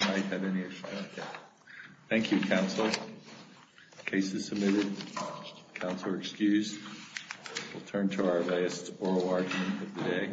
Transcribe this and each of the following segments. Thank you, counsel. Case is submitted. Counselor excused. We'll turn to our latest oral argument of the day.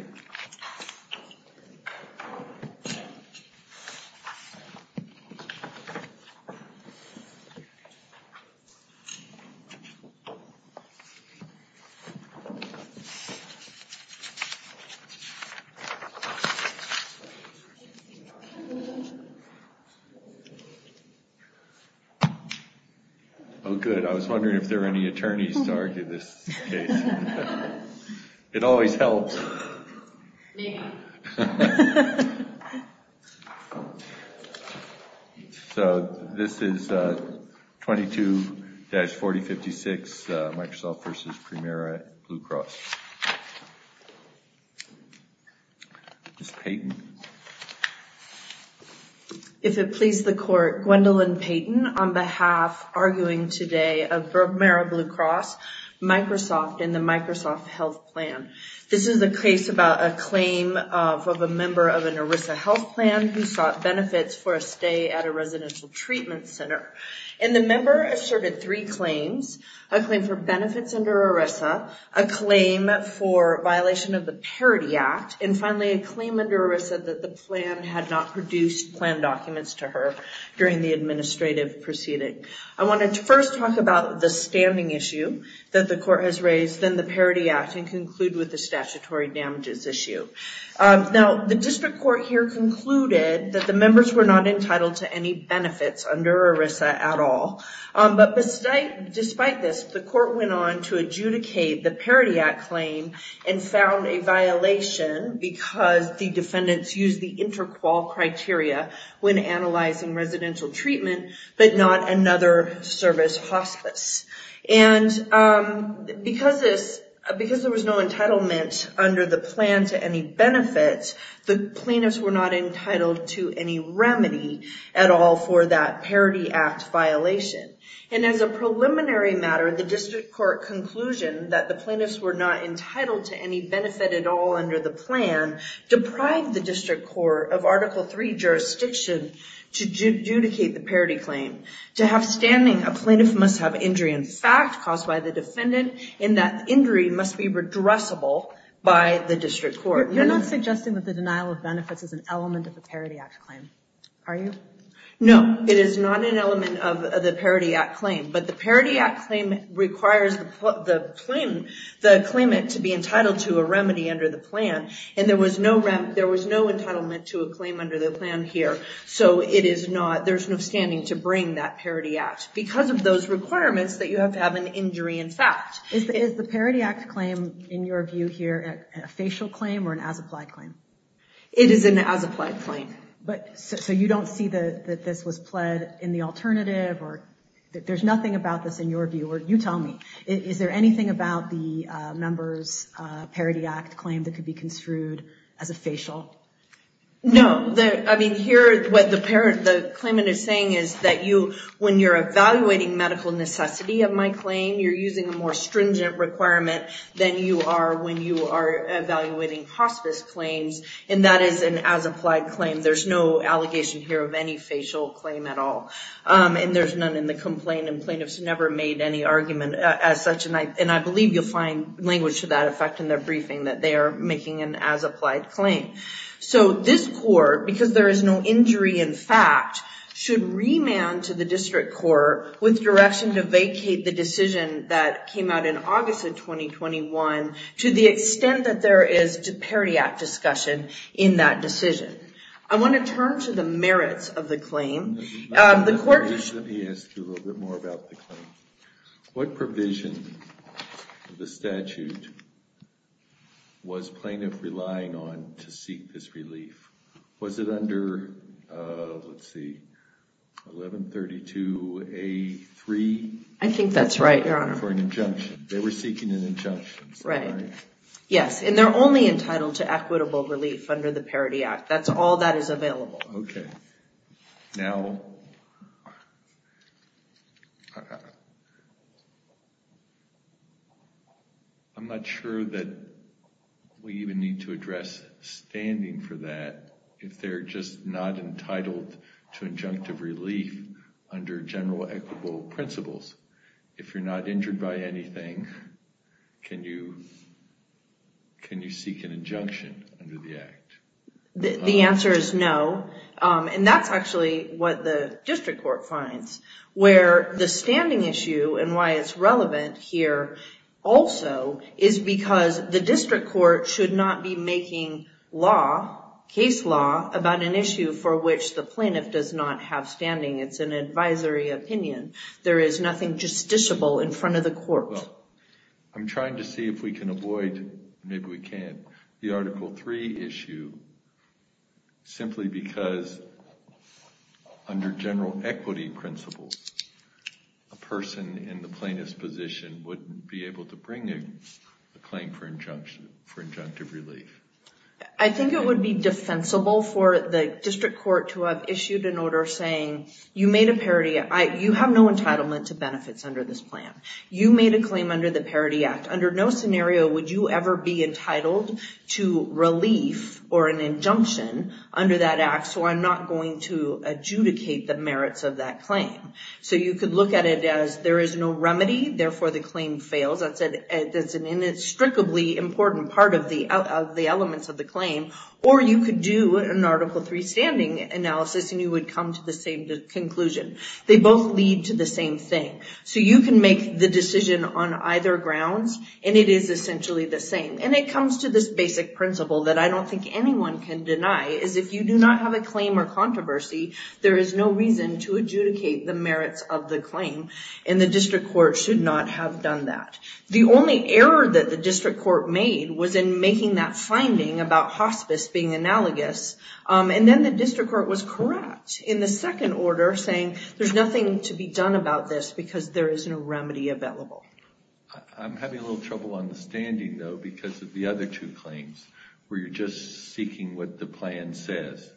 Oh, good. I was wondering if there were any attorneys to argue this case. It always helps. Me. So this is 22-4056, Microsoft v. Premera Blue Cross. Ms. Payton. If it please the court, Gwendolyn Payton on behalf, arguing today of Premera Blue Cross, Microsoft and the Microsoft Health Plan. This is a case about a claim of a member of an ERISA health plan who sought benefits for a stay at a residential treatment center. And the member asserted three claims, a claim for benefits under ERISA, a claim for violation of the Parity Act, and finally a claim under ERISA that the plan had not produced plan documents to her during the administrative proceeding. I want to first talk about the standing issue that the court has raised, then the Parity Act, and conclude with the statutory damages issue. Now, the district court here concluded that the members were not entitled to any benefits under ERISA at all. But despite this, the court went on to adjudicate the Parity Act claim and found a violation because the defendants used the inter-qual criteria when analyzing residential treatment, but not another service hospice. And because there was no entitlement under the plan to any benefits, the plaintiffs were not entitled to any remedy at all for that Parity Act violation. And as a preliminary matter, the district court conclusion that the plaintiffs were not entitled to any benefit at all under the plan deprived the district court of Article III jurisdiction to adjudicate the Parity Claim. To have standing, a plaintiff must have injury in fact caused by the defendant, and that injury must be redressable by the district court. You're not suggesting that the denial of benefits is an element of the Parity Act claim, are you? No, it is not an element of the Parity Act claim, but the Parity Act claim requires the claimant to be entitled to a remedy under the plan. And there was no entitlement to a claim under the plan here, so there's no standing to bring that Parity Act. Because of those requirements, you have to have an injury in fact. Is the Parity Act claim, in your view here, a facial claim or an as-applied claim? It is an as-applied claim. So you don't see that this was pled in the alternative, or there's nothing about this in your view, or you tell me. Is there anything about the member's Parity Act claim that could be construed as a facial? No, I mean here what the claimant is saying is that when you're evaluating medical necessity of my claim, you're using a more stringent requirement than you are when you are evaluating hospice claims. And that is an as-applied claim. There's no allegation here of any facial claim at all. And there's none in the complaint, and plaintiffs never made any argument as such. And I believe you'll find language to that effect in their briefing, that they are making an as-applied claim. So this court, because there is no injury in fact, should remand to the district court with direction to vacate the decision that came out in August of 2021 to the extent that there is Parity Act discussion in that decision. I want to turn to the merits of the claim. Let me ask you a little bit more about the claim. What provision of the statute was plaintiff relying on to seek this relief? Was it under, let's see, 1132A3? I think that's right, Your Honor. For an injunction. They were seeking an injunction. Right. Yes, and they're only entitled to equitable relief under the Parity Act. That's all that is available. Okay. Now, I'm not sure that we even need to address standing for that if they're just not entitled to injunctive relief under general equitable principles. If you're not injured by anything, can you seek an injunction under the Act? The answer is no, and that's actually what the district court finds. Where the standing issue and why it's relevant here also is because the district court should not be making law, case law, about an issue for which the plaintiff does not have standing. It's an advisory opinion. There is nothing justiciable in front of the court. I'm trying to see if we can avoid, maybe we can't, the Article 3 issue simply because under general equity principles, a person in the plaintiff's position wouldn't be able to bring a claim for injunctive relief. I think it would be defensible for the district court to have issued an order saying, you made a parity, you have no entitlement to benefits under this plan. You made a claim under the Parity Act. Under no scenario would you ever be entitled to relief or an injunction under that Act, so I'm not going to adjudicate the merits of that claim. You could look at it as there is no remedy, therefore the claim fails. That's an inextricably important part of the elements of the claim, or you could do an Article 3 standing analysis and you would come to the same conclusion. They both lead to the same thing. You can make the decision on either grounds and it is essentially the same. It comes to this basic principle that I don't think anyone can deny, is if you do not have a claim or controversy, there is no reason to adjudicate the merits of the claim. The district court should not have done that. The only error that the district court made was in making that finding about hospice being analogous. Then the district court was correct in the second order saying there is nothing to be done about this because there is no remedy available. I'm having a little trouble understanding though because of the other two claims where you're just seeking what the plan says.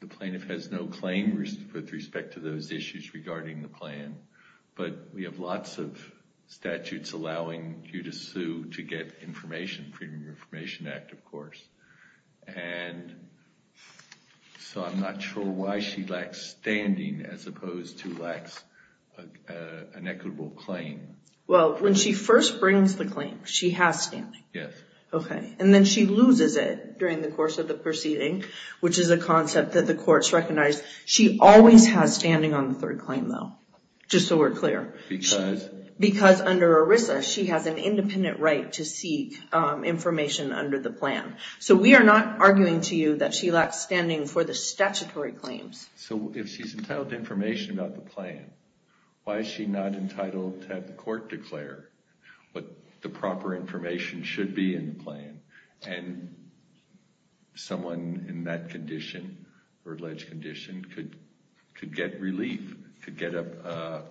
The plaintiff has no claim with respect to those issues regarding the plan, but we have lots of statutes allowing you to sue to get information, the Freedom of Information Act of course. I'm not sure why she lacks standing as opposed to lacks an equitable claim. When she first brings the claim, she has standing. Then she loses it during the course of the proceeding, which is a concept that the courts recognize. She always has standing on the third claim though, just so we're clear. Because? Because under ERISA, she has an independent right to seek information under the plan. We are not arguing to you that she lacks standing for the statutory claims. If she's entitled to information about the plan, why is she not entitled to have the court declare what the proper information should be in the plan? Someone in that condition or alleged condition could get relief, could get a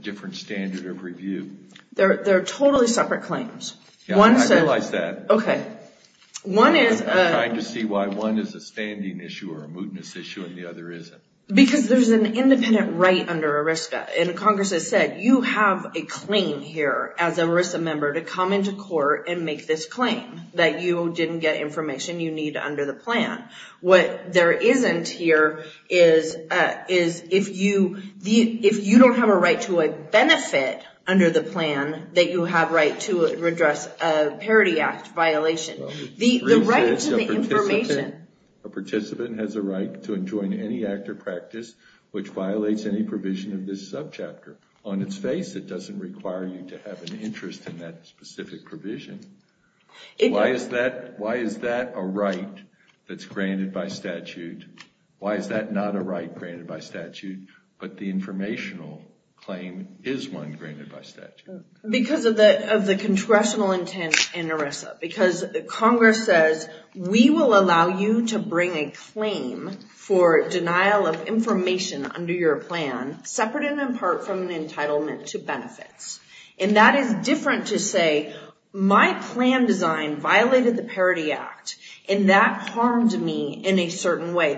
different standard of review. They're totally separate claims. I realize that. I'm trying to see why one is a standing issue or a mootness issue and the other isn't. Because there's an independent right under ERISA. Congress has said, you have a claim here as an ERISA member to come into court and make this claim that you didn't get information you need under the plan. What there isn't here is if you don't have a right to a benefit under the plan, that you have a right to address a Parity Act violation. The right to the information. A participant has a right to enjoin any act or practice which violates any provision of this subchapter. On its face, it doesn't require you to have an interest in that specific provision. Why is that a right that's granted by statute? Why is that not a right granted by statute, but the informational claim is one granted by statute? Because of the congressional intent in ERISA. Because Congress says, we will allow you to bring a claim for denial of information under your plan, separate and in part from an entitlement to benefits. And that is different to say, my plan design violated the Parity Act. And that harmed me in a certain way.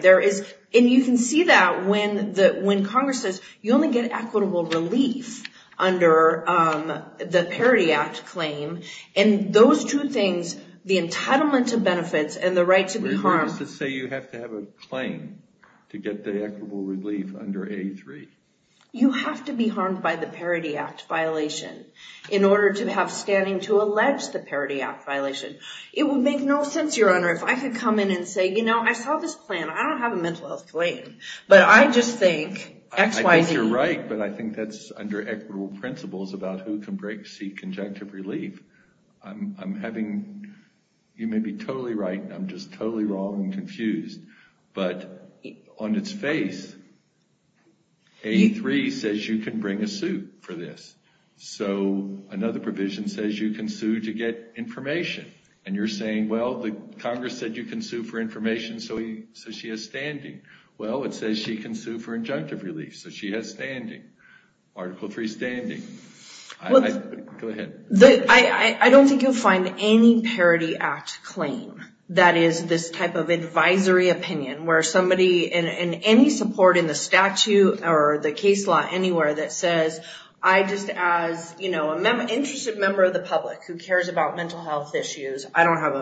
And you can see that when Congress says, you only get equitable relief under the Parity Act claim. And those two things, the entitlement to benefits and the right to be harmed. You have to have a claim to get the equitable relief under A3. You have to be harmed by the Parity Act violation in order to have standing to allege the Parity Act violation. It would make no sense, Your Honor, if I could come in and say, you know, I saw this plan. I don't have a mental health claim. But I just think X, Y, Z. I think you're right. But I think that's under equitable principles about who can seek conjunctive relief. I'm having, you may be totally right. I'm just totally wrong and confused. But on its face, A3 says you can bring a suit for this. So another provision says you can sue to get information. And you're saying, well, Congress said you can sue for information, so she has standing. Well, it says she can sue for injunctive relief, so she has standing. Article 3, standing. Go ahead. I don't think you'll find any Parity Act claim that is this type of advisory opinion, where somebody in any support in the statute or the case law anywhere that says, I just as, you know, an interested member of the public who cares about mental health issues, I don't have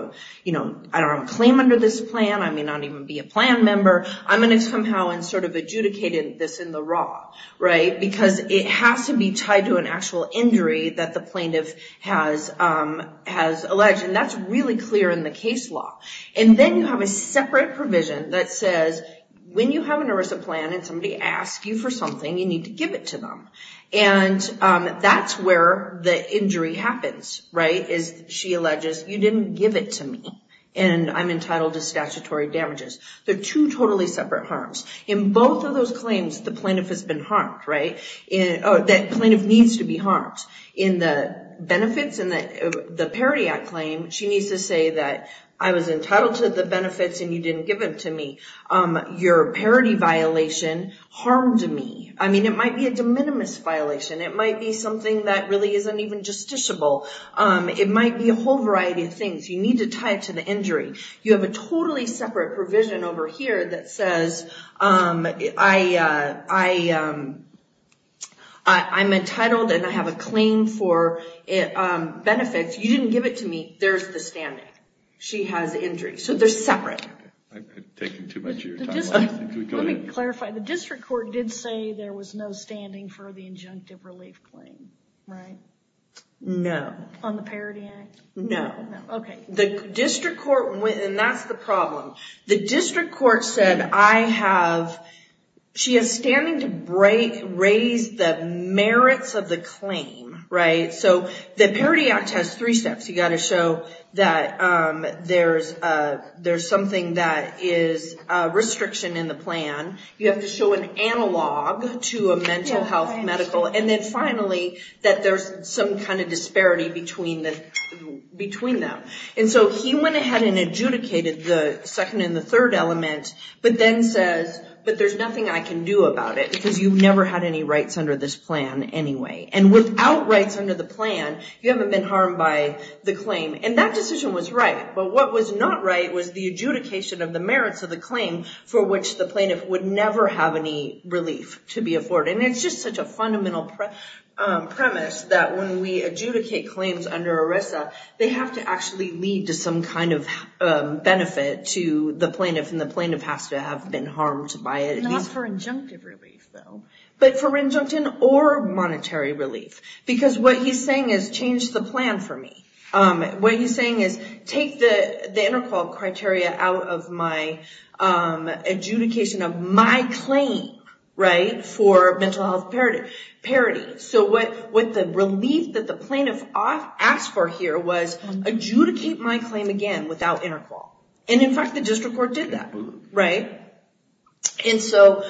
a claim under this plan. I may not even be a plan member. I'm going to somehow sort of adjudicate this in the raw, right, because it has to be tied to an actual injury that the plaintiff has alleged. And that's really clear in the case law. And then you have a separate provision that says when you have an erisa plan and somebody asks you for something, you need to give it to them. And that's where the injury happens, right, is she alleges you didn't give it to me and I'm entitled to statutory damages. They're two totally separate harms. In both of those claims, the plaintiff has been harmed, right? That plaintiff needs to be harmed. In the benefits and the Parity Act claim, she needs to say that I was entitled to the benefits and you didn't give them to me. Your Parity violation harmed me. I mean, it might be a de minimis violation. It might be something that really isn't even justiciable. It might be a whole variety of things. You need to tie it to the injury. You have a totally separate provision over here that says I'm entitled and I have a claim for benefits. You didn't give it to me. There's the standing. She has injury. So they're separate. I'm taking too much of your time. Let me clarify. The district court did say there was no standing for the injunctive relief claim, right? No. On the Parity Act? No. Okay. That's the problem. The district court said she is standing to raise the merits of the claim, right? So the Parity Act has three steps. You've got to show that there's something that is a restriction in the plan. You have to show an analog to a mental health medical, and then finally that there's some kind of disparity between them. And so he went ahead and adjudicated the second and the third element, but then says, but there's nothing I can do about it, because you've never had any rights under this plan anyway. And without rights under the plan, you haven't been harmed by the claim. And that decision was right. But what was not right was the adjudication of the merits of the claim for which the plaintiff would never have any relief to be afforded. And it's just such a fundamental premise that when we adjudicate claims under ERISA, they have to actually lead to some kind of benefit to the plaintiff, and the plaintiff has to have been harmed by it. Not for injunctive relief, though. But for injunctive or monetary relief. Because what he's saying is, change the plan for me. What he's saying is, get the interqual criteria out of my adjudication of my claim for mental health parity. So what the relief that the plaintiff asked for here was, adjudicate my claim again without interqual. And in fact, the district court did that. And so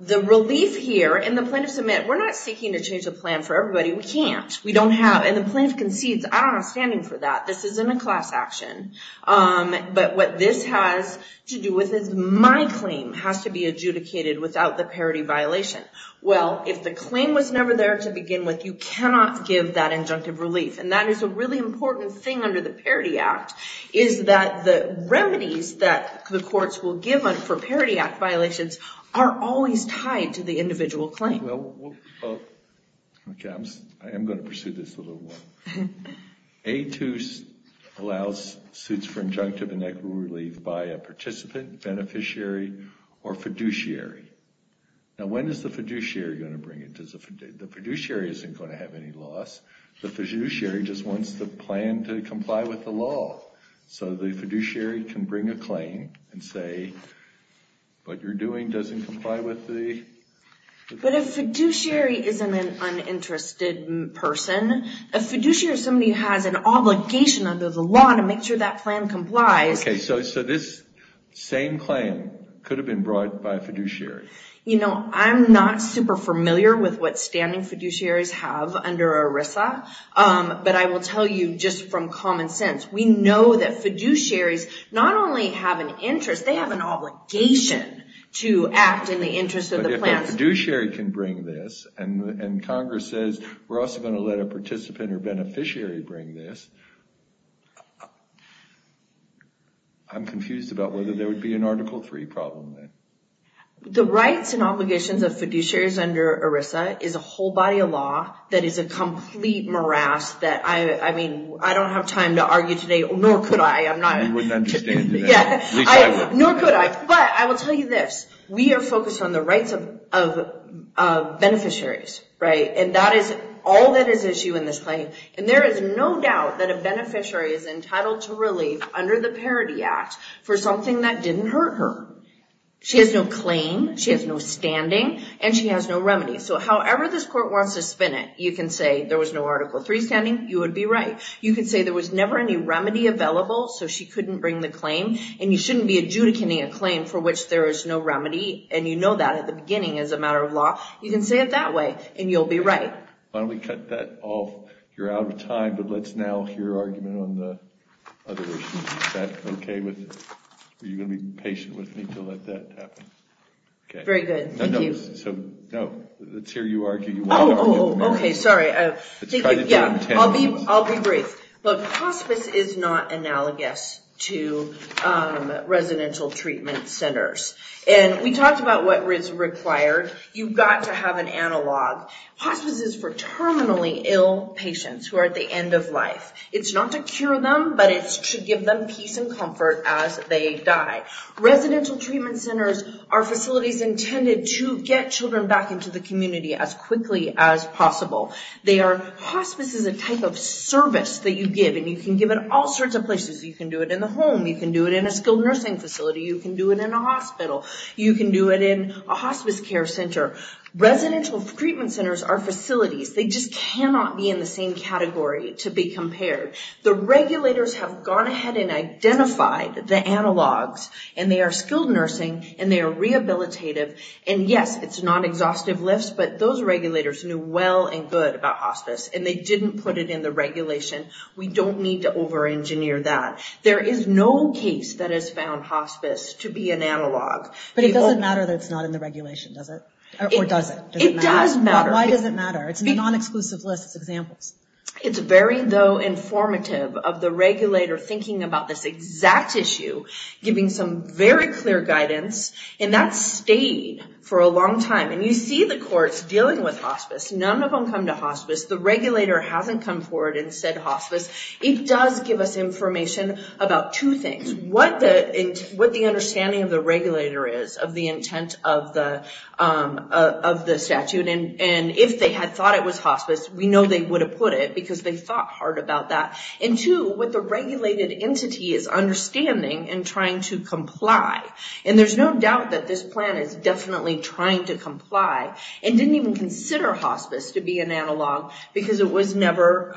the relief here, and the plaintiff said, we're not seeking to change the plan for everybody. We can't. We don't have. And the plaintiff concedes, I don't have standing for that. This isn't a class action. But what this has to do with is, my claim has to be adjudicated without the parity violation. Well, if the claim was never there to begin with, you cannot give that injunctive relief. And that is a really important thing under the Parity Act, is that the remedies that the courts will give for Parity Act violations are always tied to the individual claim. Okay. I am going to pursue this a little more. A2 allows suits for injunctive and equitable relief by a participant, beneficiary, or fiduciary. Now, when is the fiduciary going to bring it? The fiduciary isn't going to have any loss. The fiduciary just wants the plan to comply with the law. So the fiduciary can bring a claim and say, what you're doing doesn't comply with the. But a fiduciary isn't an uninterested person. A fiduciary is somebody who has an obligation under the law to make sure that plan complies. Okay. So this same claim could have been brought by a fiduciary. You know, I'm not super familiar with what standing fiduciaries have under ERISA. But I will tell you just from common sense, we know that fiduciaries not only have an interest, they have an obligation to act in the interest of the plan. But if a fiduciary can bring this and Congress says we're also going to let a participant or beneficiary bring this, I'm confused about whether there would be an Article III problem then. The rights and obligations of fiduciaries under ERISA is a whole body of law that is a complete morass that, I mean, I don't have time to argue today, nor could I. You wouldn't understand today. Nor could I. But I will tell you this. We are focused on the rights of beneficiaries, right? And that is all that is at issue in this claim. And there is no doubt that a beneficiary is entitled to relief under the Parity Act for something that didn't hurt her. She has no claim, she has no standing, and she has no remedy. So however this court wants to spin it, you can say there was no Article III standing, you would be right. You could say there was never any remedy available so she couldn't bring the claim, and you shouldn't be adjudicating a claim for which there is no remedy, and you know that at the beginning as a matter of law. You can say it that way, and you'll be right. Why don't we cut that off? You're out of time, but let's now hear your argument on the other issues. Is that okay with you? Are you going to be patient with me to let that happen? Very good, thank you. No, let's hear you argue. Oh, okay, sorry. I'll be brief. Look, hospice is not analogous to residential treatment centers. And we talked about what is required. You've got to have an analog. Hospice is for terminally ill patients who are at the end of life. It's not to cure them, but it's to give them peace and comfort as they die. Residential treatment centers are facilities intended to get children back into the community as quickly as possible. Hospice is a type of service that you give, and you can give it all sorts of places. You can do it in the home. You can do it in a skilled nursing facility. You can do it in a hospital. You can do it in a hospice care center. Residential treatment centers are facilities. They just cannot be in the same category to be compared. The regulators have gone ahead and identified the analogs, and they are skilled nursing, and they are rehabilitative. And, yes, it's not exhaustive lifts, but those regulators knew well and good about hospice, and they didn't put it in the regulation. We don't need to over-engineer that. There is no case that has found hospice to be an analog. But it doesn't matter that it's not in the regulation, does it? Or does it? It does matter. Why does it matter? It's a non-exclusive list. It's examples. It's very, though, informative of the regulator thinking about this exact issue, giving some very clear guidance, and that stayed for a long time. And you see the courts dealing with hospice. None of them come to hospice. The regulator hasn't come forward and said hospice. It does give us information about two things, what the understanding of the regulator is of the intent of the statute. And if they had thought it was hospice, we know they would have put it because they thought hard about that. And, two, what the regulated entity is understanding and trying to comply. And there's no doubt that this plan is definitely trying to comply and didn't even consider hospice to be an analog because it was never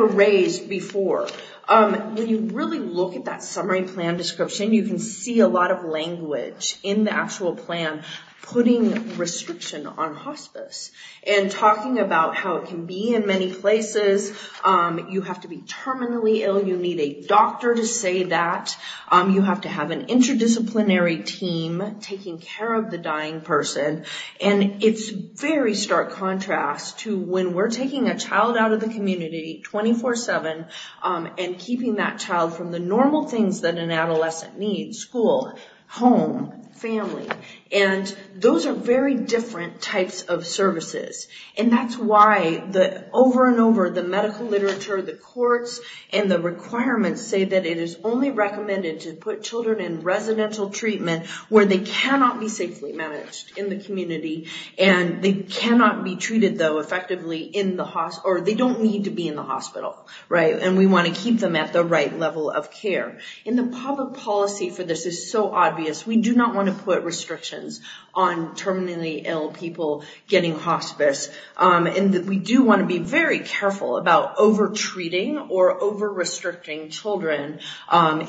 raised before. When you really look at that summary plan description, you can see a lot of language in the actual plan putting restriction on hospice and talking about how it can be in many places. You have to be terminally ill. You need a doctor to say that. You have to have an interdisciplinary team taking care of the dying person. And it's very stark contrast to when we're taking a child out of the community 24-7 and keeping that child from the normal things that an adolescent needs, school, home, family. And those are very different types of services. And that's why over and over the medical literature, the courts and the requirements say that it is only recommended to put children in residential treatment where they cannot be safely managed in the community and they cannot be treated, though, effectively in the hospital or they don't need to be in the hospital. And we want to keep them at the right level of care. And the public policy for this is so obvious. We do not want to put restrictions on terminally ill people getting hospice. And we do want to be very careful about over-treating or over-restricting children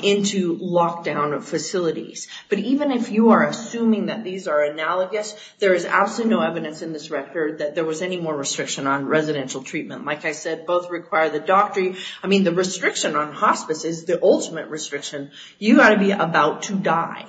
into lockdown facilities. But even if you are assuming that these are analogous, there is absolutely no evidence in this record that there was any more restriction on residential treatment. Like I said, both require the doctor. I mean, the restriction on hospice is the ultimate restriction. You've got to be about to die.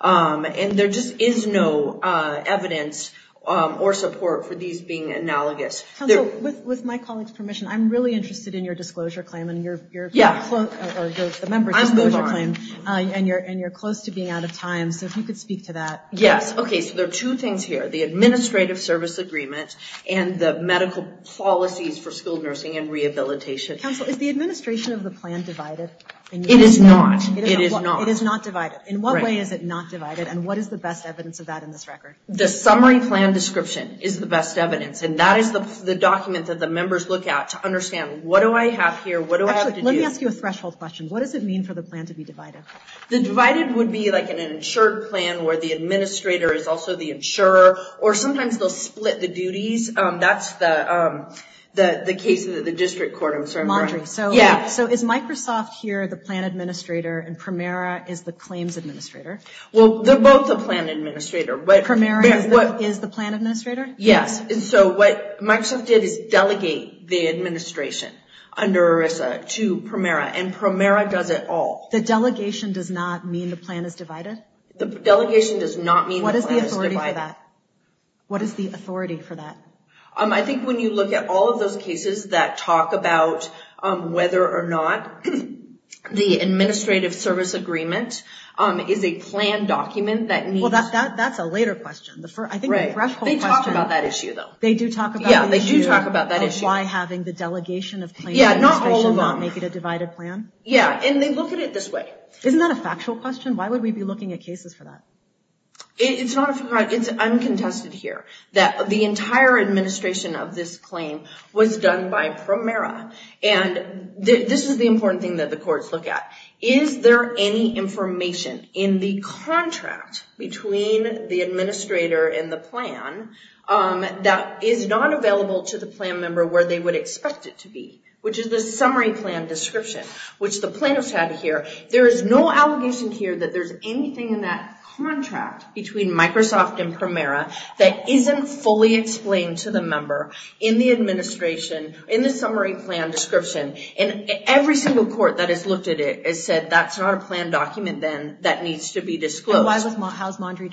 And there just is no evidence or support for these being analogous. Counsel, with my colleague's permission, I'm really interested in your disclosure claim and the member's disclosure claim. I move on. And you're close to being out of time, so if you could speak to that. Yes. Okay, so there are two things here, the administrative service agreement and the medical policies for skilled nursing and rehabilitation. Counsel, is the administration of the plan divided? It is not. It is not. It is not divided. In what way is it not divided, and what is the best evidence of that in this record? The summary plan description is the best evidence, and that is the document that the members look at to understand, what do I have here, what do I have to do? Actually, let me ask you a threshold question. What does it mean for the plan to be divided? The divided would be like in an insured plan where the administrator is also the insurer, or sometimes they'll split the duties. That's the case in the district court I'm sorry. So is Microsoft here the plan administrator and Primera is the claims administrator? Well, they're both the plan administrator. Primera is the plan administrator? Yes. So what Microsoft did is delegate the administration under ERISA to Primera, and Primera does it all. The delegation does not mean the plan is divided? The delegation does not mean the plan is divided. What is the authority for that? What is the authority for that? I think when you look at all of those cases that talk about whether or not the administrative service agreement is a plan document that needs- Well, that's a later question. I think the threshold question- They talk about that issue though. They do talk about the issue- Yeah, they do talk about that issue. Of why having the delegation of claims administration- Yeah, not all of them. Not make it a divided plan? Yeah, and they look at it this way. Isn't that a factual question? Why would we be looking at cases for that? It's uncontested here. The entire administration of this claim was done by Primera, and this is the important thing that the courts look at. Is there any information in the contract between the administrator and the plan that is not available to the plan member where they would expect it to be, which is the summary plan description, which the plaintiffs had here. There is no allegation here that there's anything in that contract between Microsoft and Primera that isn't fully explained to the member in the summary plan description. Every single court that has looked at it has said, that's not a plan document then that needs to be disclosed. How is Maundry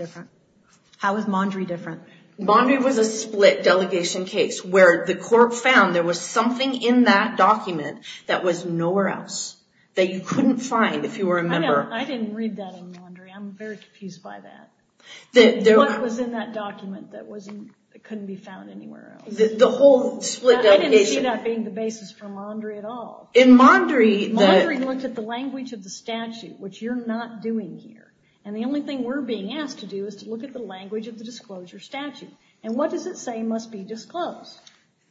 different? Maundry was a split delegation case where the court found there was something in that document that was nowhere else that you couldn't find if you were a member. I didn't read that in Maundry. I'm very confused by that. What was in that document that couldn't be found anywhere else? The whole split delegation. I didn't see that being the basis for Maundry at all. Maundry looked at the language of the statute, which you're not doing here. The only thing we're being asked to do is to look at the language of the disclosure statute. What does it say must be disclosed?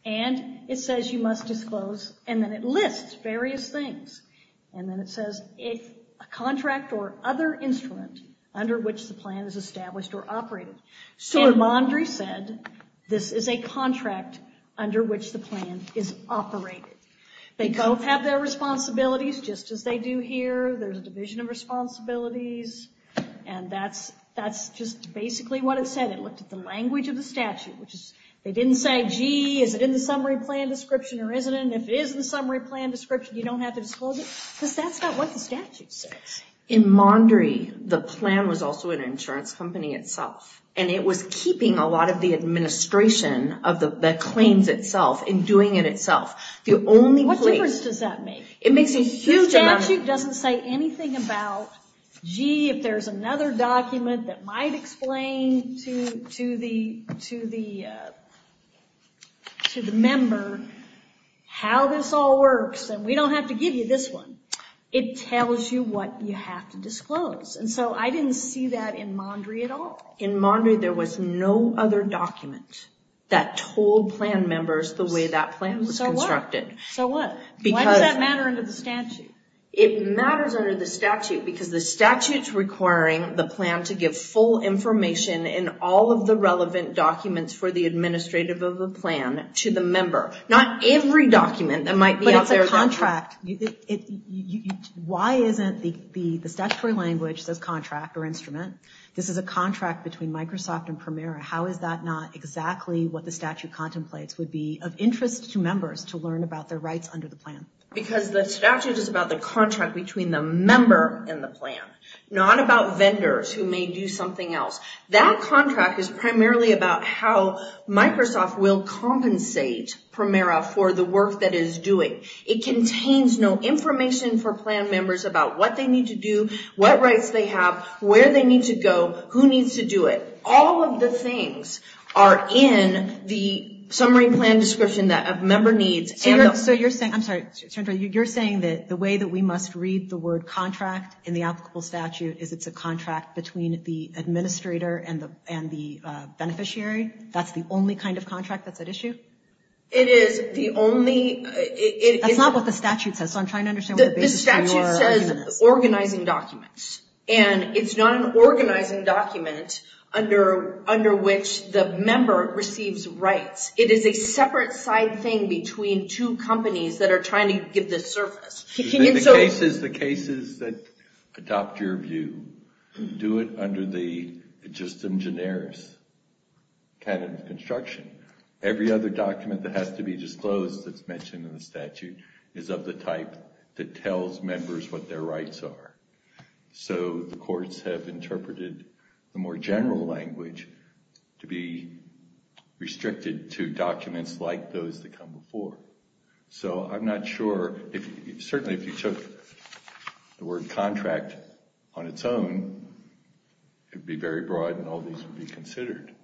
It says you must disclose, and then it lists various things. Then it says, a contract or other instrument under which the plan is established or operated. Maundry said this is a contract under which the plan is operated. They both have their responsibilities, just as they do here. There's a division of responsibilities. That's just basically what it said. It looked at the language of the statute. They didn't say, gee, is it in the summary plan description or isn't it? If it is in the summary plan description, you don't have to disclose it, because that's not what the statute says. In Maundry, the plan was also an insurance company itself, and it was keeping a lot of the administration of the claims itself and doing it itself. What difference does that make? The statute doesn't say anything about, gee, if there's another document that might explain to the member how this all works, and we don't have to give you this one. It tells you what you have to disclose. I didn't see that in Maundry at all. In Maundry, there was no other document that told plan members the way that plan was constructed. So what? Why does that matter under the statute? It matters under the statute, because the statute's requiring the plan to give full information in all of the relevant documents for the administrative of the plan to the member. Not every document that might be out there. But it's a contract. Why isn't the statutory language says contract or instrument? This is a contract between Microsoft and Primera. How is that not exactly what the statute contemplates would be of interest to members to learn about their rights under the plan? Because the statute is about the contract between the member and the plan, not about vendors who may do something else. That contract is primarily about how Microsoft will compensate Primera for the work that it is doing. It contains no information for plan members about what they need to do, what rights they have, where they need to go, who needs to do it. All of the things are in the summary plan description that a member needs. So you're saying that the way that we must read the word contract in the applicable statute is it's a contract between the administrator and the beneficiary? That's the only kind of contract that's at issue? It is. That's not what the statute says, so I'm trying to understand what the basis for your argument is. The statute says organizing documents, and it's not an organizing document under which the member receives rights. It is a separate side thing between two companies that are trying to give this service. The cases that adopt your view, do it under the justum generis canon of construction. Every other document that has to be disclosed that's mentioned in the statute is of the type that tells members what their rights are. So the courts have interpreted the more general language to be restricted to documents like those that come before. So I'm not sure, certainly if you took the word contract on its own, it would be very broad and all these would be considered.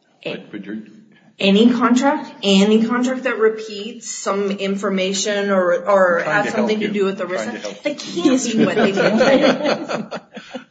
Any contract? Any contract that repeats some information or has something to do with ERISA? The key is what they do.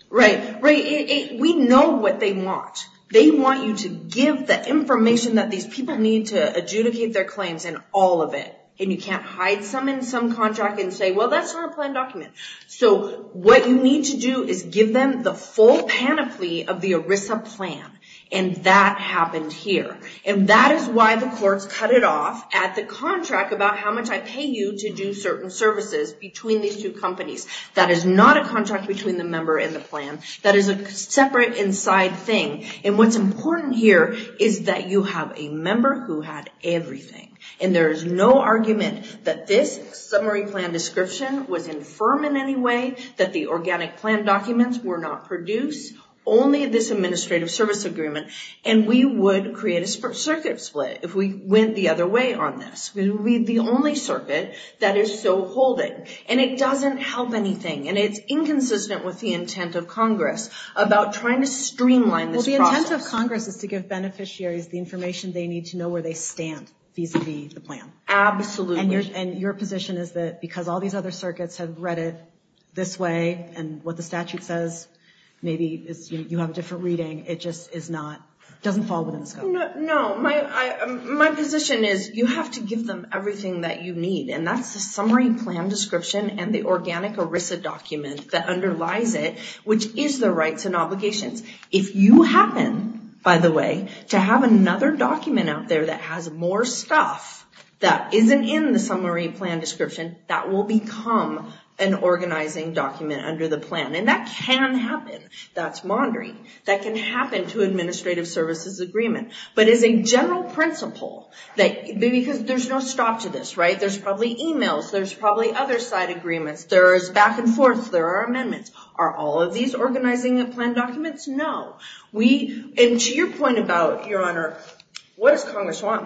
Right. We know what they want. They want you to give the information that these people need to adjudicate their claims in all of it, and you can't hide some in some contract and say, well that's not a planned document. So what you need to do is give them the full panoply of the ERISA plan, and that happened here. And that is why the courts cut it off at the contract about how much I pay you to do certain services between these two companies. That is not a contract between the member and the plan. That is a separate inside thing. And what's important here is that you have a member who had everything. And there is no argument that this summary plan description was infirm in any way, that the organic plan documents were not produced. Only this administrative service agreement. And we would create a circuit split if we went the other way on this. We would be the only circuit that is so holding. And it doesn't help anything. And it's inconsistent with the intent of Congress about trying to streamline this process. Well, the intent of Congress is to give beneficiaries the information they need to know where they stand vis-a-vis the plan. Absolutely. And your position is that because all these other circuits have read it this way and what the statute says, maybe you have a different reading. It just is not, doesn't fall within the scope. No. My position is you have to give them everything that you need. And that's the summary plan description and the organic ERISA document that underlies it, which is the rights and obligations. If you happen, by the way, to have another document out there that has more stuff that isn't in the document under the plan. And that can happen. That's maundering. That can happen to administrative services agreement. But as a general principle, because there's no stop to this, right? There's probably emails. There's probably other side agreements. There's back and forth. There are amendments. Are all of these organizing plan documents? No. And to your point about, Your Honor, what does Congress want?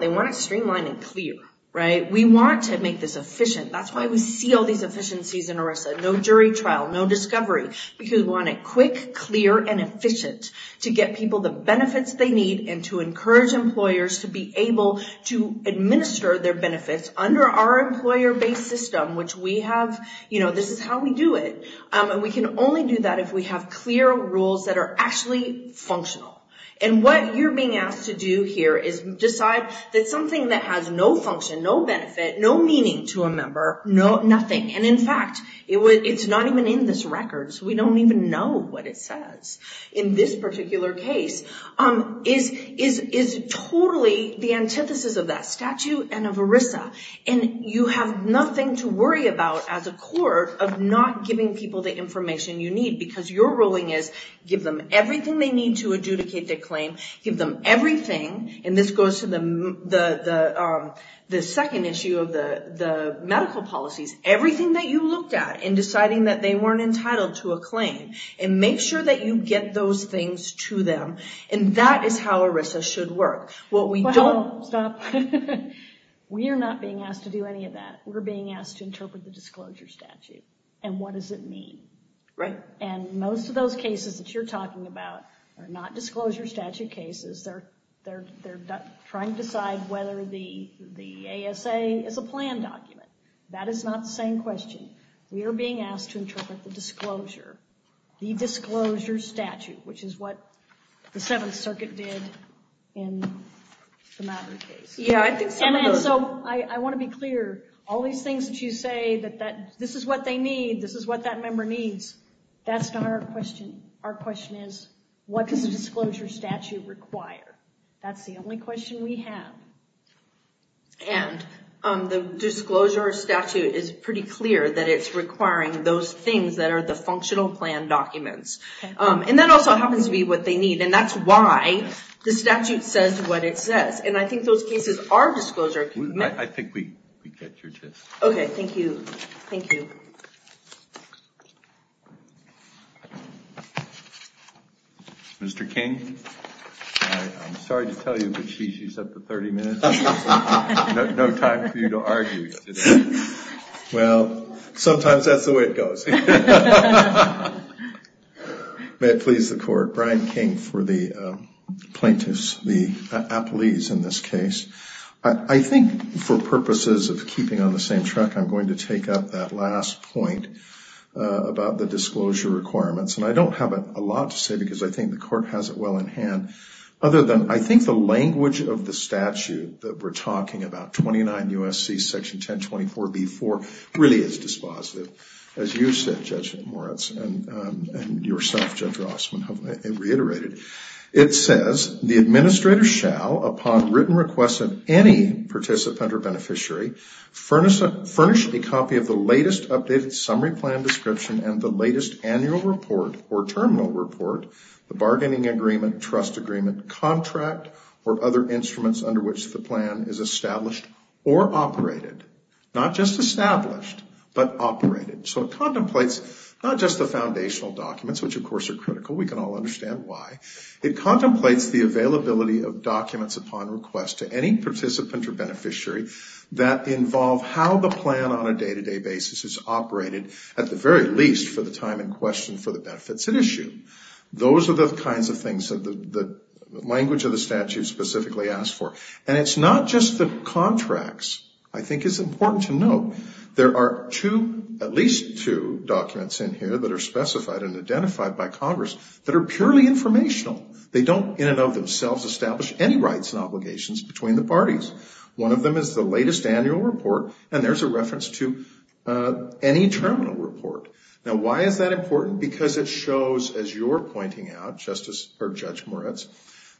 Right? We want to make this efficient. That's why we see all these efficiencies in ERISA. No jury trial. No discovery. Because we want it quick, clear, and efficient. To get people the benefits they need and to encourage employers to be able to administer their benefits under our employer-based system, which we have. This is how we do it. And we can only do that if we have clear rules that are actually functional. And what you're being asked to do here is decide that something that has no function, no benefit, no meaning to a member, nothing. And, in fact, it's not even in this record, so we don't even know what it says in this particular case, is totally the antithesis of that statute and of ERISA. And you have nothing to worry about as a court of not giving people the information you need because your ruling is give them everything they need to adjudicate their claim. Give them everything. And this goes to the second issue of the medical policies. Everything that you looked at in deciding that they weren't entitled to a claim. And make sure that you get those things to them. And that is how ERISA should work. What we don't. Stop. We are not being asked to do any of that. We're being asked to interpret the disclosure statute. And what does it mean? Right. And most of those cases that you're talking about are not disclosure statute cases. They're trying to decide whether the ASA is a plan document. That is not the same question. We are being asked to interpret the disclosure. The disclosure statute, which is what the Seventh Circuit did in the Madden case. Yeah. So I want to be clear. All these things that you say that this is what they need. This is what that member needs. That's not our question. Our question is what does a disclosure statute require? That's the only question we have. And the disclosure statute is pretty clear that it's requiring those things that are the functional plan documents. And that also happens to be what they need. And that's why the statute says what it says. And I think those cases are disclosure. I think we get your gist. Okay. Thank you. Thank you. Mr. King. I'm sorry to tell you, but she's up to 30 minutes. No time for you to argue. Well, sometimes that's the way it goes. May it please the Court. Brian King for the plaintiffs, the appellees in this case. I think for purposes of keeping on the same track, I'm going to take up that last point about the disclosure requirements. And I don't have a lot to say because I think the Court has it well in hand. Other than I think the language of the statute that we're talking about, 29 U.S.C. Section 1024B-4, really is dispositive. As you said, Judge Moritz, and yourself, Judge Rossman, have reiterated. It says the administrator shall, upon written request of any participant or beneficiary, furnish a copy of the latest updated summary plan description and the latest annual report or terminal report, the bargaining agreement, trust agreement, contract, or other instruments under which the plan is established or operated. Not just established, but operated. So it contemplates not just the foundational documents, which of course are critical. We can all understand why. It contemplates the availability of documents upon request to any participant or beneficiary that involve how the plan on a day-to-day basis is operated, at the very least for the time in question for the benefits at issue. Those are the kinds of things that the language of the statute specifically asks for. And it's not just the contracts. I think it's important to note there are at least two documents in here that are specified and identified by Congress that are purely informational. They don't in and of themselves establish any rights and obligations between the parties. One of them is the latest annual report, and there's a reference to any terminal report. Now, why is that important? Because it shows, as you're pointing out, Judge Moritz,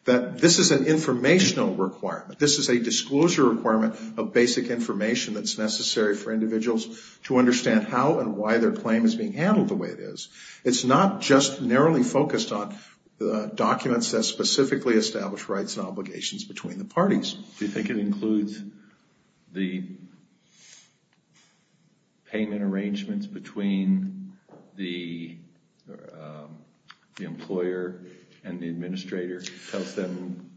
that this is an informational requirement. This is a disclosure requirement of basic information that's necessary for individuals to understand how and why their claim is being handled the way it is. It's not just narrowly focused on documents that specifically establish rights and obligations between the parties. Do you think it includes the payment arrangements between the employer and the administrator? Tells them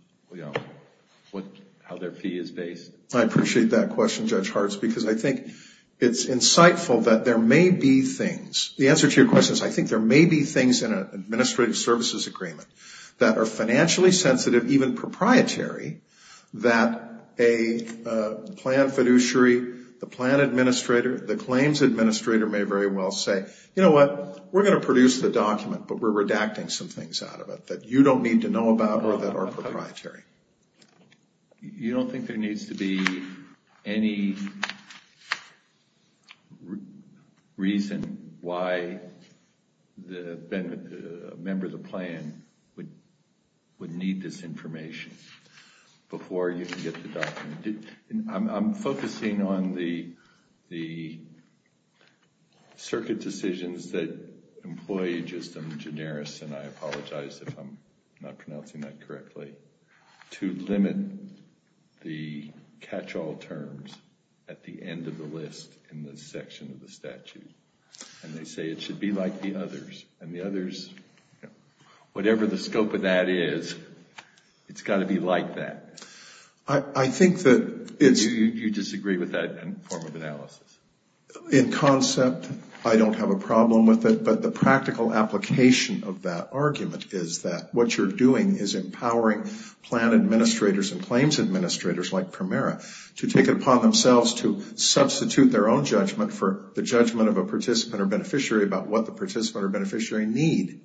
how their fee is based? I appreciate that question, Judge Hartz, because I think it's insightful that there may be things. The answer to your question is I think there may be things in an administrative services agreement that are financially sensitive, even proprietary, that a plan fiduciary, the plan administrator, the claims administrator may very well say, you know what, we're going to produce the document, but we're redacting some things out of it that you don't need to know about or that are proprietary. You don't think there needs to be any reason why a member of the plan would need this information before you can get the document? I'm focusing on the circuit decisions that employees, just in generous, and I apologize if I'm not pronouncing that correctly, to limit the catch-all terms at the end of the list in the section of the statute. And they say it should be like the others. And the others, whatever the scope of that is, it's got to be like that. I think that it's... You disagree with that form of analysis? In concept, I don't have a problem with it. But the practical application of that argument is that what you're doing is empowering plan administrators and claims administrators like Primera to take it upon themselves to substitute their own judgment for the judgment of a participant or beneficiary about what the participant or beneficiary need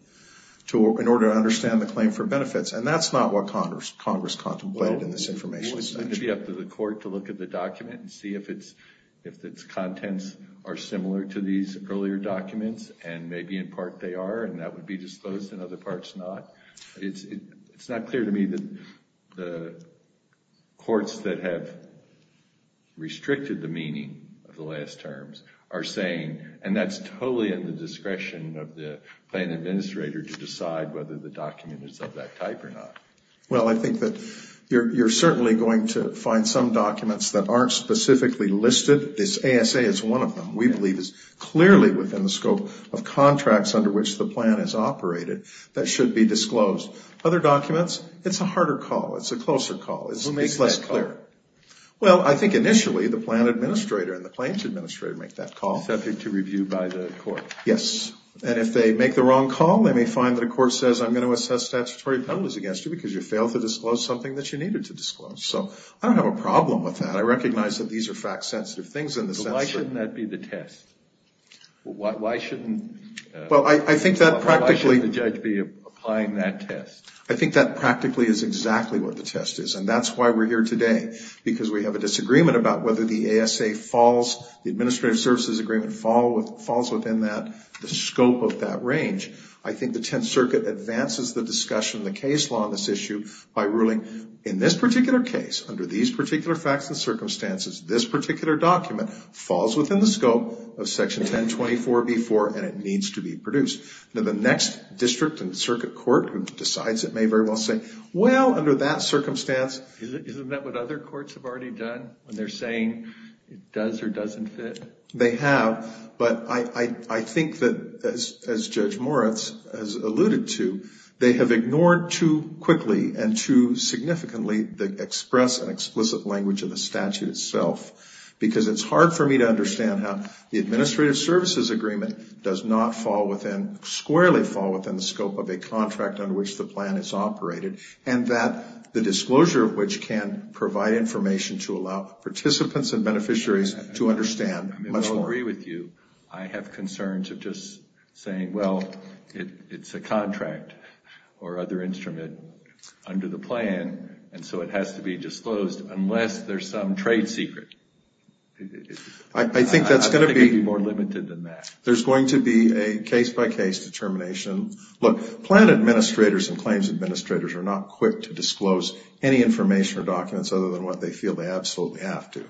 in order to understand the claim for benefits. And that's not what Congress contemplated in this information section. Well, it's going to be up to the court to look at the document and see if its contents are similar to these earlier documents, and maybe in part they are and that would be disclosed and other parts not. It's not clear to me that the courts that have restricted the meaning of the last terms are saying, and that's totally in the discretion of the plan administrator to decide whether the document is of that type or not. Well, I think that you're certainly going to find some documents that aren't specifically listed. This ASA is one of them. We believe it's clearly within the scope of contracts under which the plan is operated that should be disclosed. Other documents, it's a harder call. It's a closer call. Who makes that call? It's less clear. Well, I think initially the plan administrator and the claims administrator make that call. Subject to review by the court. Yes. And if they make the wrong call, they may find that a court says I'm going to assess statutory penalties against you because you failed to disclose something that you needed to disclose. So I don't have a problem with that. I recognize that these are fact-sensitive things in the sense that – Why shouldn't that be the test? Why shouldn't – Well, I think that practically – Why shouldn't the judge be applying that test? I think that practically is exactly what the test is, and that's why we're here today because we have a disagreement about whether the ASA falls, the administrative services agreement falls within that, the scope of that range. I think the Tenth Circuit advances the discussion, the case law on this issue, by ruling in this particular case, under these particular facts and circumstances, this particular document falls within the scope of Section 1024b-4, and it needs to be produced. Now, the next district and circuit court who decides it may very well say, well, under that circumstance – Isn't that what other courts have already done when they're saying it does or doesn't fit? They have. But I think that, as Judge Moritz has alluded to, they have ignored too quickly and too significantly the express and explicit language of the statute itself, because it's hard for me to understand how the administrative services agreement does not fall within – squarely fall within the scope of a contract under which the plan is operated, and that the disclosure of which can provide information to allow participants and beneficiaries to understand much more. I agree with you. I have concerns of just saying, well, it's a contract or other instrument under the plan, and so it has to be disclosed unless there's some trade secret. I think that's going to be – I think it would be more limited than that. There's going to be a case-by-case determination. Look, plan administrators and claims administrators are not quick to disclose any information or documents other than what they feel they absolutely have to.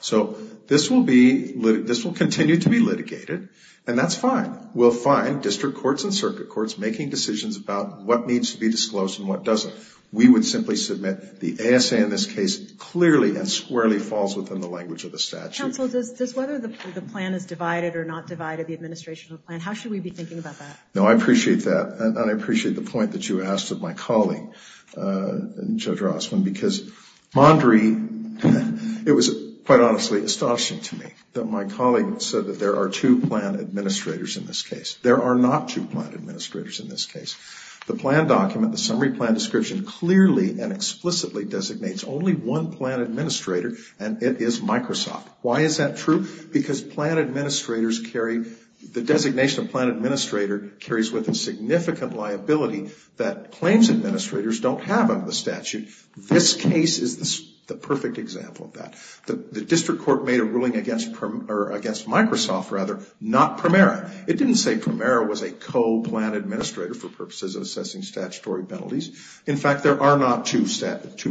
So this will be – this will continue to be litigated, and that's fine. We'll find district courts and circuit courts making decisions about what needs to be disclosed and what doesn't. We would simply submit the ASA in this case clearly and squarely falls within the language of the statute. Counsel, does whether the plan is divided or not divided, the administrational plan, how should we be thinking about that? No, I appreciate that, and I appreciate the point that you asked of my colleague, Judge Rossman, because Mondri, it was quite honestly astonishing to me that my colleague said that there are two plan administrators in this case. There are not two plan administrators in this case. The plan document, the summary plan description, clearly and explicitly designates only one plan administrator, and it is Microsoft. Why is that true? Because plan administrators carry – the designation of plan administrator carries with it significant liability that claims administrators don't have under the statute. This case is the perfect example of that. The district court made a ruling against Microsoft, rather, not Primera. It didn't say Primera was a co-plan administrator for purposes of assessing statutory penalties. In fact, there are not two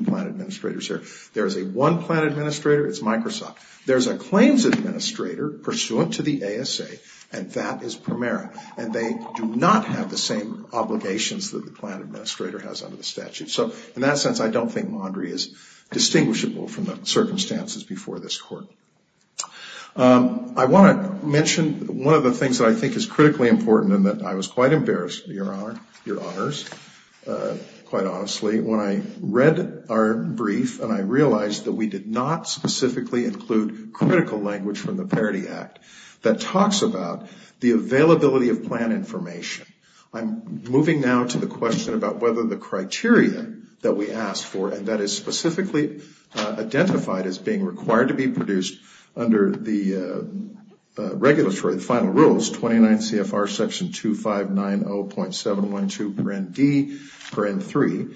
plan administrators here. There is a one plan administrator. It's Microsoft. There's a claims administrator pursuant to the ASA, and that is Primera, and they do not have the same obligations that the plan administrator has under the statute. So in that sense, I don't think Mondry is distinguishable from the circumstances before this court. I want to mention one of the things that I think is critically important and that I was quite embarrassed, Your Honor, Your Honors, quite honestly, when I read our brief and I realized that we did not specifically include critical language from the Parity Act that talks about the availability of plan information. I'm moving now to the question about whether the criteria that we asked for, and that is specifically identified as being required to be produced under the regulatory, the final rules, 29 CFR Section 2590.712 per ND per N3.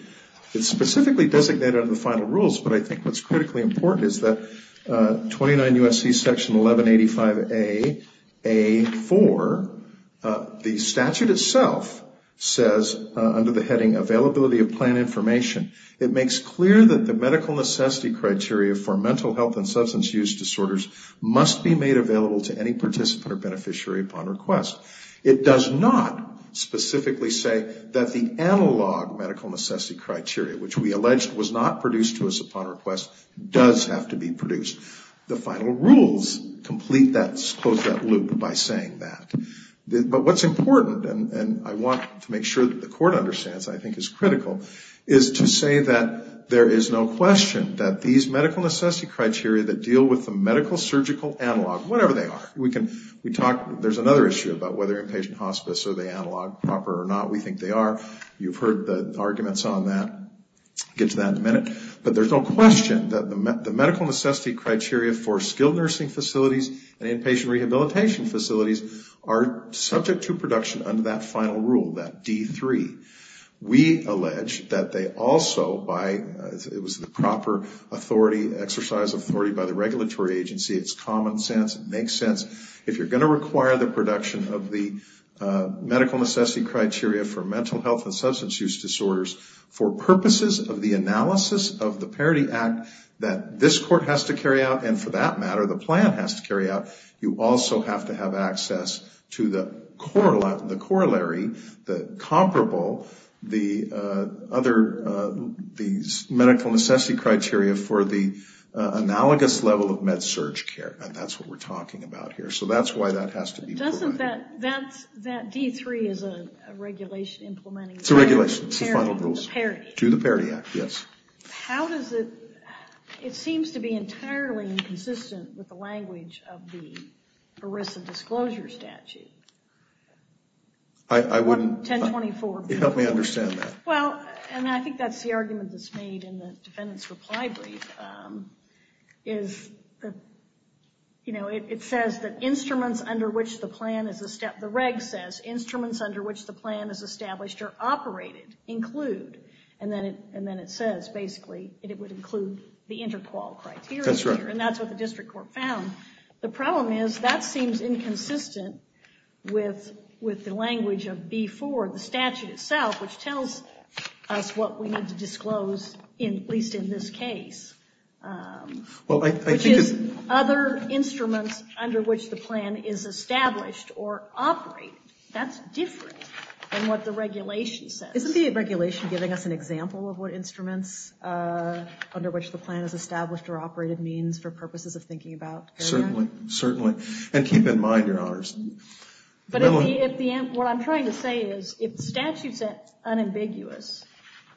It's specifically designated under the final rules, but I think what's critically important is that 29 USC Section 1185A.A.4, the statute itself says under the heading availability of plan information, it makes clear that the medical necessity criteria for mental health and substance use disorders must be made available to any participant or beneficiary upon request. It does not specifically say that the analog medical necessity criteria, which we alleged was not produced to us upon request, does have to be produced. The final rules complete that, close that loop by saying that. But what's important, and I want to make sure that the Court understands, I think is critical, is to say that there is no question that these medical necessity criteria that deal with the medical surgical analog, whatever they are, we can, we talk, there's another issue about whether inpatient hospice are they analog proper or not. We think they are. You've heard the arguments on that. We'll get to that in a minute. But there's no question that the medical necessity criteria for skilled nursing facilities and inpatient rehabilitation facilities are subject to production under that final rule, that D3. We allege that they also, by, it was the proper authority, exercise of authority by the regulatory agency, it's common sense, it makes sense. If you're going to require the production of the medical necessity criteria for mental health and substance use disorders for purposes of the analysis of the Parity Act that this Court has to carry out and for that matter the plan has to carry out, you also have to have access to the corollary, the comparable, the other, these medical necessity criteria for the analogous level of med-surg care. And that's what we're talking about here. So that's why that has to be provided. Doesn't that, that D3 is a regulation implementing the Parity Act? It's a regulation. It's the final rule. To the Parity Act, yes. How does it, it seems to be entirely inconsistent with the language of the ERISA disclosure statute. I wouldn't. 1024. Help me understand that. Well, and I think that's the argument that's made in the defendant's reply brief, is that, you know, it says that instruments under which the plan is, the reg says instruments under which the plan is established are operated, include, and then it says basically it would include the interqual criteria. That's right. And that's what the district court found. The problem is that seems inconsistent with the language of B4, the statute itself, which tells us what we need to disclose, at least in this case, which is other instruments under which the plan is established or operated. That's different than what the regulation says. Isn't the regulation giving us an example of what instruments under which the plan is established or operated means for purposes of thinking about area? Certainly. Certainly. And keep in mind, Your Honors. But what I'm trying to say is, if the statute said unambiguous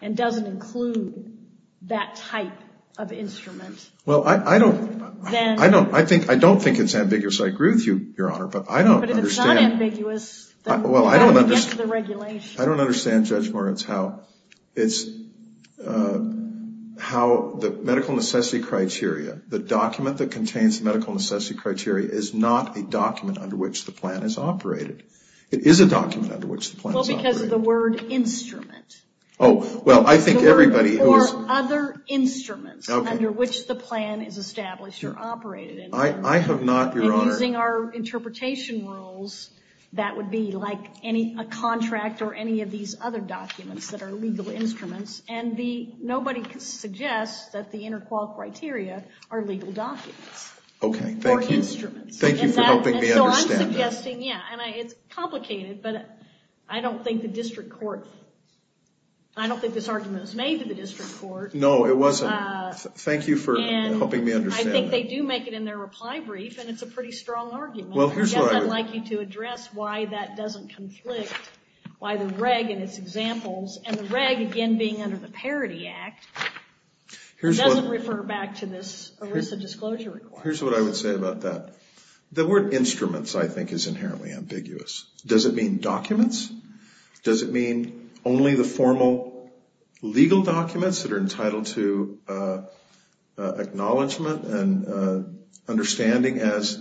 and doesn't include that type of instrument. Well, I don't think it's ambiguous. I agree with you, Your Honor, but I don't understand. But if it's not ambiguous, then what is the regulation? I don't understand, Judge Moritz, how the medical necessity criteria, the document that contains the medical necessity criteria is not a document under which the plan is operated. It is a document under which the plan is operated. Well, because of the word instrument. Oh, well, I think everybody who is. Or other instruments under which the plan is established or operated. I have not, Your Honor. And using our interpretation rules, that would be like a contract or any of these other documents that are legal instruments, and nobody suggests that the interqual criteria are legal documents. Okay, thank you. Or instruments. And so I'm suggesting, yeah, and it's complicated, but I don't think the district court, I don't think this argument was made to the district court. No, it wasn't. Thank you for helping me understand that. And I think they do make it in their reply brief, and it's a pretty strong argument. Well, here's what I would. I'd like you to address why that doesn't conflict, why the reg and its examples, and the reg, again, being under the Parity Act, doesn't refer back to this ERISA disclosure requirement. Here's what I would say about that. The word instruments, I think, is inherently ambiguous. Does it mean documents? Does it mean only the formal legal documents that are entitled to acknowledgment and understanding as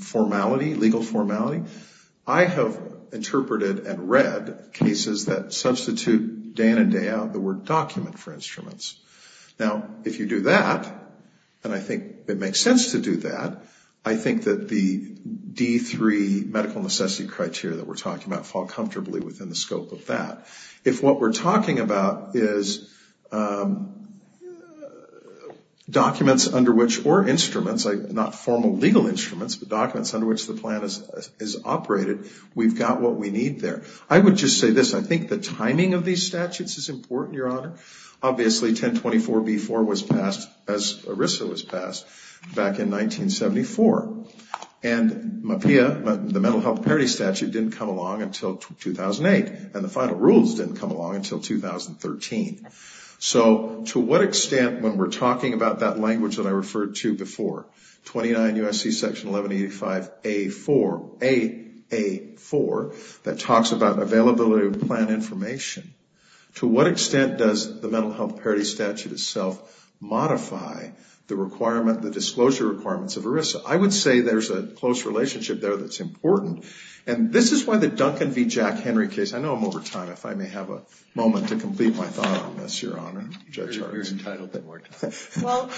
formality, legal formality? I have interpreted and read cases that substitute day in and day out the word document for instruments. Now, if you do that, and I think it makes sense to do that, I think that the D3 medical necessity criteria that we're talking about fall comfortably within the scope of that. If what we're talking about is documents under which, or instruments, not formal legal instruments, but documents under which the plan is operated, we've got what we need there. I would just say this. I think the timing of these statutes is important, Your Honor. Obviously, 1024B4 was passed, as ERISA was passed, back in 1974. And MHPAEA, the Mental Health Parity Statute, didn't come along until 2008, and the final rules didn't come along until 2013. So to what extent, when we're talking about that language that I referred to before, 29 U.S.C. Section 1185A4, that talks about availability of plan information, to what extent does the Mental Health Parity Statute itself modify the disclosure requirements of ERISA? I would say there's a close relationship there that's important. And this is why the Duncan v. Jack Henry case, I know I'm over time, if I may have a moment to complete my thought on this, Your Honor. Judge Harden. You're entitled to more time. Well,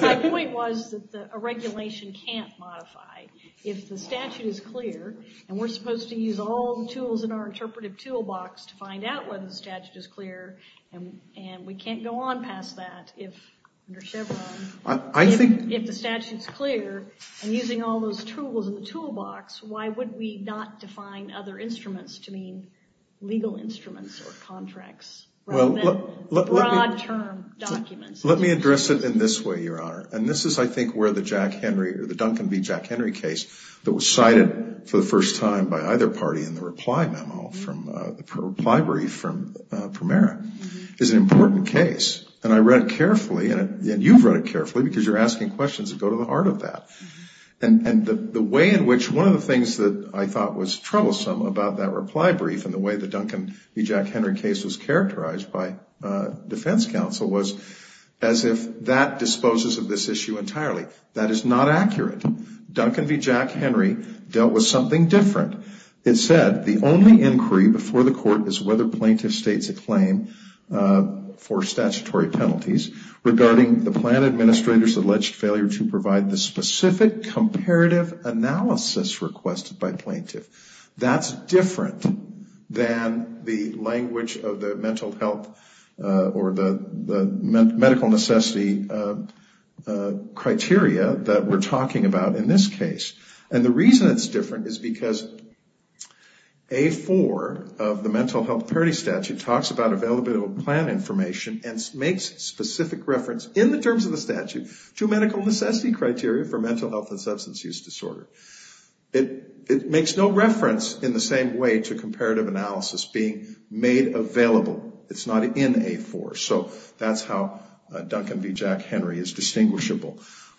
my point was that a regulation can't modify. If the statute is clear, and we're supposed to use all the tools in our interpretive toolbox to find out whether the statute is clear, and we can't go on past that under Chevron. If the statute's clear, and using all those tools in the toolbox, why would we not define other instruments to mean legal instruments or contracts rather than broad-term documents? Let me address it in this way, Your Honor. And this is, I think, where the Duncan v. Jack Henry case, that was cited for the first time by either party in the reply memo, the reply brief from Primera, is an important case. And I read it carefully, and you've read it carefully, because you're asking questions that go to the heart of that. And the way in which one of the things that I thought was troublesome about that reply brief and the way the Duncan v. Jack Henry case was characterized by defense counsel was as if that disposes of this issue entirely. That is not accurate. Duncan v. Jack Henry dealt with something different. It said, the only inquiry before the court is whether plaintiff states a claim for statutory penalties regarding the plan administrator's alleged failure to provide the specific comparative analysis requested by plaintiff. That's different than the language of the mental health or the medical necessity criteria that we're talking about in this case. And the reason it's different is because A4 of the Mental Health Parity Statute talks about available plan information and makes specific reference, in the terms of the statute, to medical necessity criteria for mental health and substance use disorder. It makes no reference in the same way to comparative analysis being made available. It's not in A4. So that's how Duncan v. Jack Henry is distinguishable.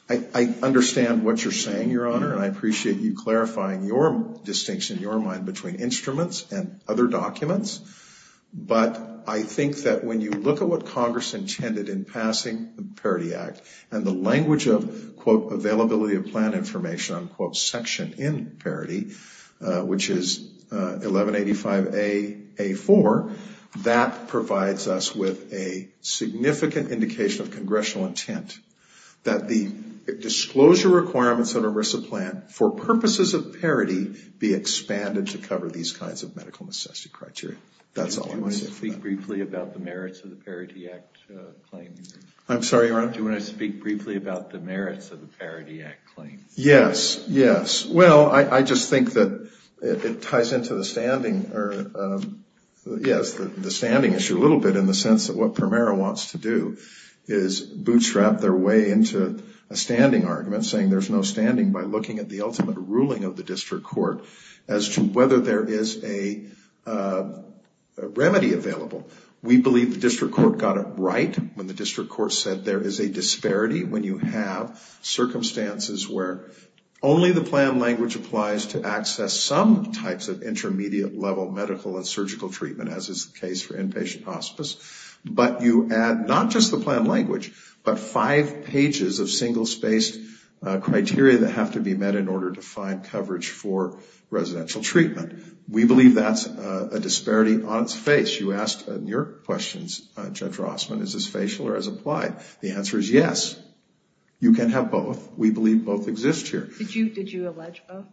I understand what you're saying, Your Honor, and I appreciate you clarifying your distinction, your mind, between instruments and other documents. But I think that when you look at what Congress intended in passing the Parity Act and the language of, quote, availability of plan information, unquote, section in Parity, which is 1185A, A4, that provides us with a significant indication of congressional intent that the disclosure requirements of a RISA plan for purposes of parity be expanded to cover these kinds of medical necessity criteria. That's all I'm going to say for now. Do you want to speak briefly about the merits of the Parity Act claim? I'm sorry, Your Honor? Do you want to speak briefly about the merits of the Parity Act claim? Yes, yes. Well, I just think that it ties into the standing or, yes, the standing issue a little bit in the sense that what Primera wants to do is bootstrap their way into a standing argument saying there's no standing by looking at the ultimate ruling of the district court as to whether there is a remedy available. We believe the district court got it right when the district court said there is a disparity when you have circumstances where only the plan language applies to access some types of intermediate-level medical and surgical treatment, as is the case for inpatient hospice, but you add not just the plan language, but five pages of single-spaced criteria that have to be met in order to find coverage for residential treatment. We believe that's a disparity on its face. You asked in your questions, Judge Rossman, is this facial or is it applied? The answer is yes. You can have both. We believe both exist here. Did you allege both?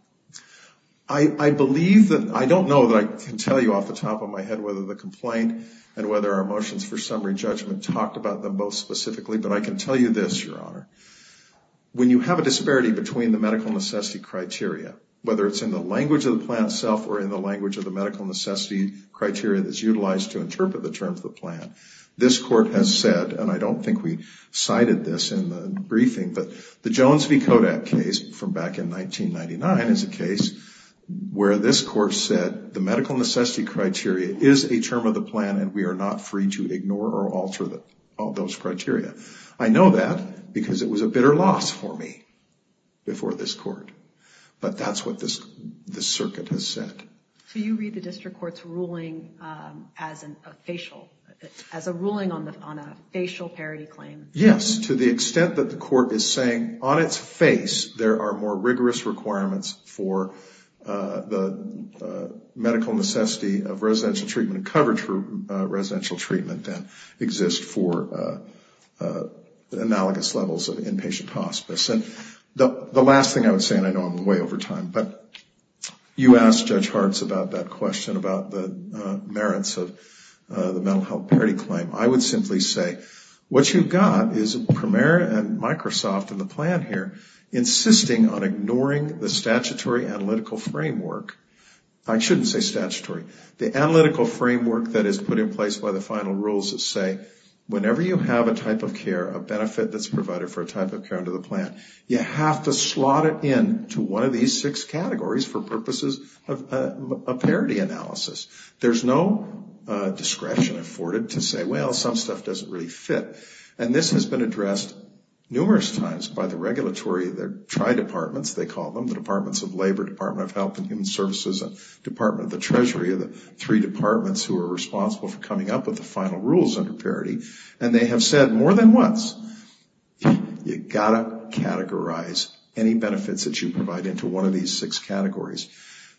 I don't know that I can tell you off the top of my head whether the complaint and whether our motions for summary judgment talked about them both specifically, but I can tell you this, Your Honor. When you have a disparity between the medical necessity criteria, whether it's in the language of the plan itself or in the language of the medical necessity criteria that's utilized to interpret the terms of the plan, this court has said, and I don't think we cited this in the briefing, but the Jones v. Kodak case from back in 1999 is a case where this court said the medical necessity criteria is a term of the plan and we are not free to ignore or alter those criteria. I know that because it was a bitter loss for me before this court, but that's what this circuit has said. So you read the district court's ruling as a ruling on a facial parity claim? Yes, to the extent that the court is saying on its face there are more rigorous requirements for the medical necessity of residential treatment and coverage for residential treatment than exists for analogous levels of inpatient hospice. The last thing I would say, and I know I'm way over time, but you asked Judge Hartz about that question about the merits of the mental health parity claim. I would simply say what you've got is Premier and Microsoft and the plan here insisting on ignoring the statutory analytical framework. I shouldn't say statutory. The analytical framework that is put in place by the final rules that say whenever you have a type of care, a benefit that's provided for a type of care under the plan, you have to slot it in to one of these six categories for purposes of a parity analysis. There's no discretion afforded to say, well, some stuff doesn't really fit. And this has been addressed numerous times by the regulatory tri-departments, they call them, the Departments of Labor, Department of Health and Human Services, and Department of the Treasury are the three departments who are responsible for coming up with the final rules under parity. And they have said more than once, you've got to categorize any benefits that you provide into one of these six categories.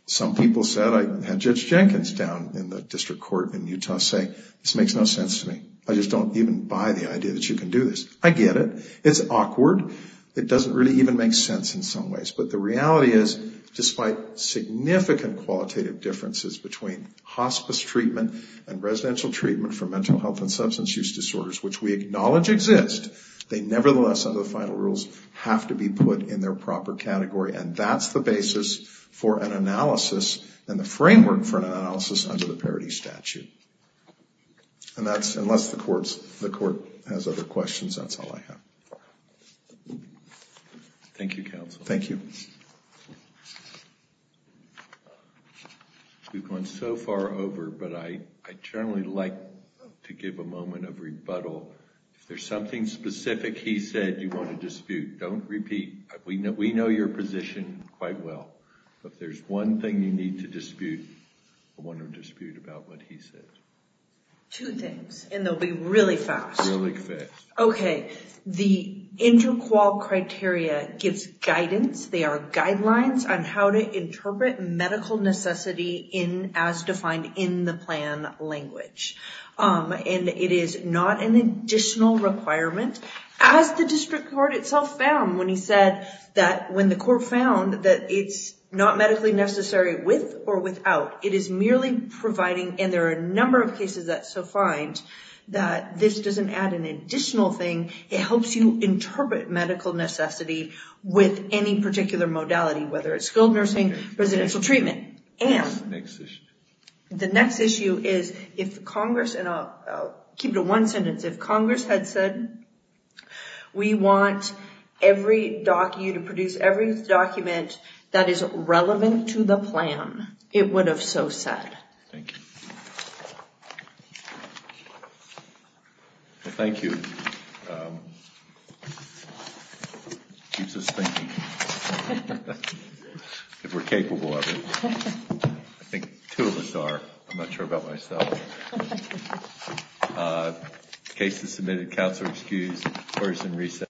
Some people said, I had Judge Jenkins down in the district court in Utah say, this makes no sense to me. I just don't even buy the idea that you can do this. I get it. It's awkward. It doesn't really even make sense in some ways. But the reality is despite significant qualitative differences between hospice treatment and residential treatment for mental health and substance use disorders, which we acknowledge exist, they nevertheless, under the final rules, have to be put in their proper category. And that's the basis for an analysis and the framework for an analysis under the parity statute. And that's unless the court has other questions. That's all I have. Thank you, counsel. Thank you. We've gone so far over. But I'd generally like to give a moment of rebuttal. If there's something specific he said you want to dispute, don't repeat. We know your position quite well. If there's one thing you need to dispute, I want to dispute about what he said. Two things. And they'll be really fast. Really fast. OK. The interqual criteria gives guidance. They are guidelines on how to interpret medical necessity as defined in the plan language. And it is not an additional requirement. As the district court itself found when he said that when the court found that it's not medically necessary with or without. It is merely providing, and there are a number of cases that so find, that this doesn't add an additional thing. It helps you interpret medical necessity with any particular modality, whether it's skilled nursing, residential treatment. And the next issue is if Congress, and I'll keep it in one sentence, if Congress had said we want every document, to produce every document that is relevant to the plan, it would have so said. Thank you. Well, thank you. Keeps us thinking. If we're capable of it. I think two of us are. I'm not sure about myself. Cases submitted, counsel excused. Courts in recess.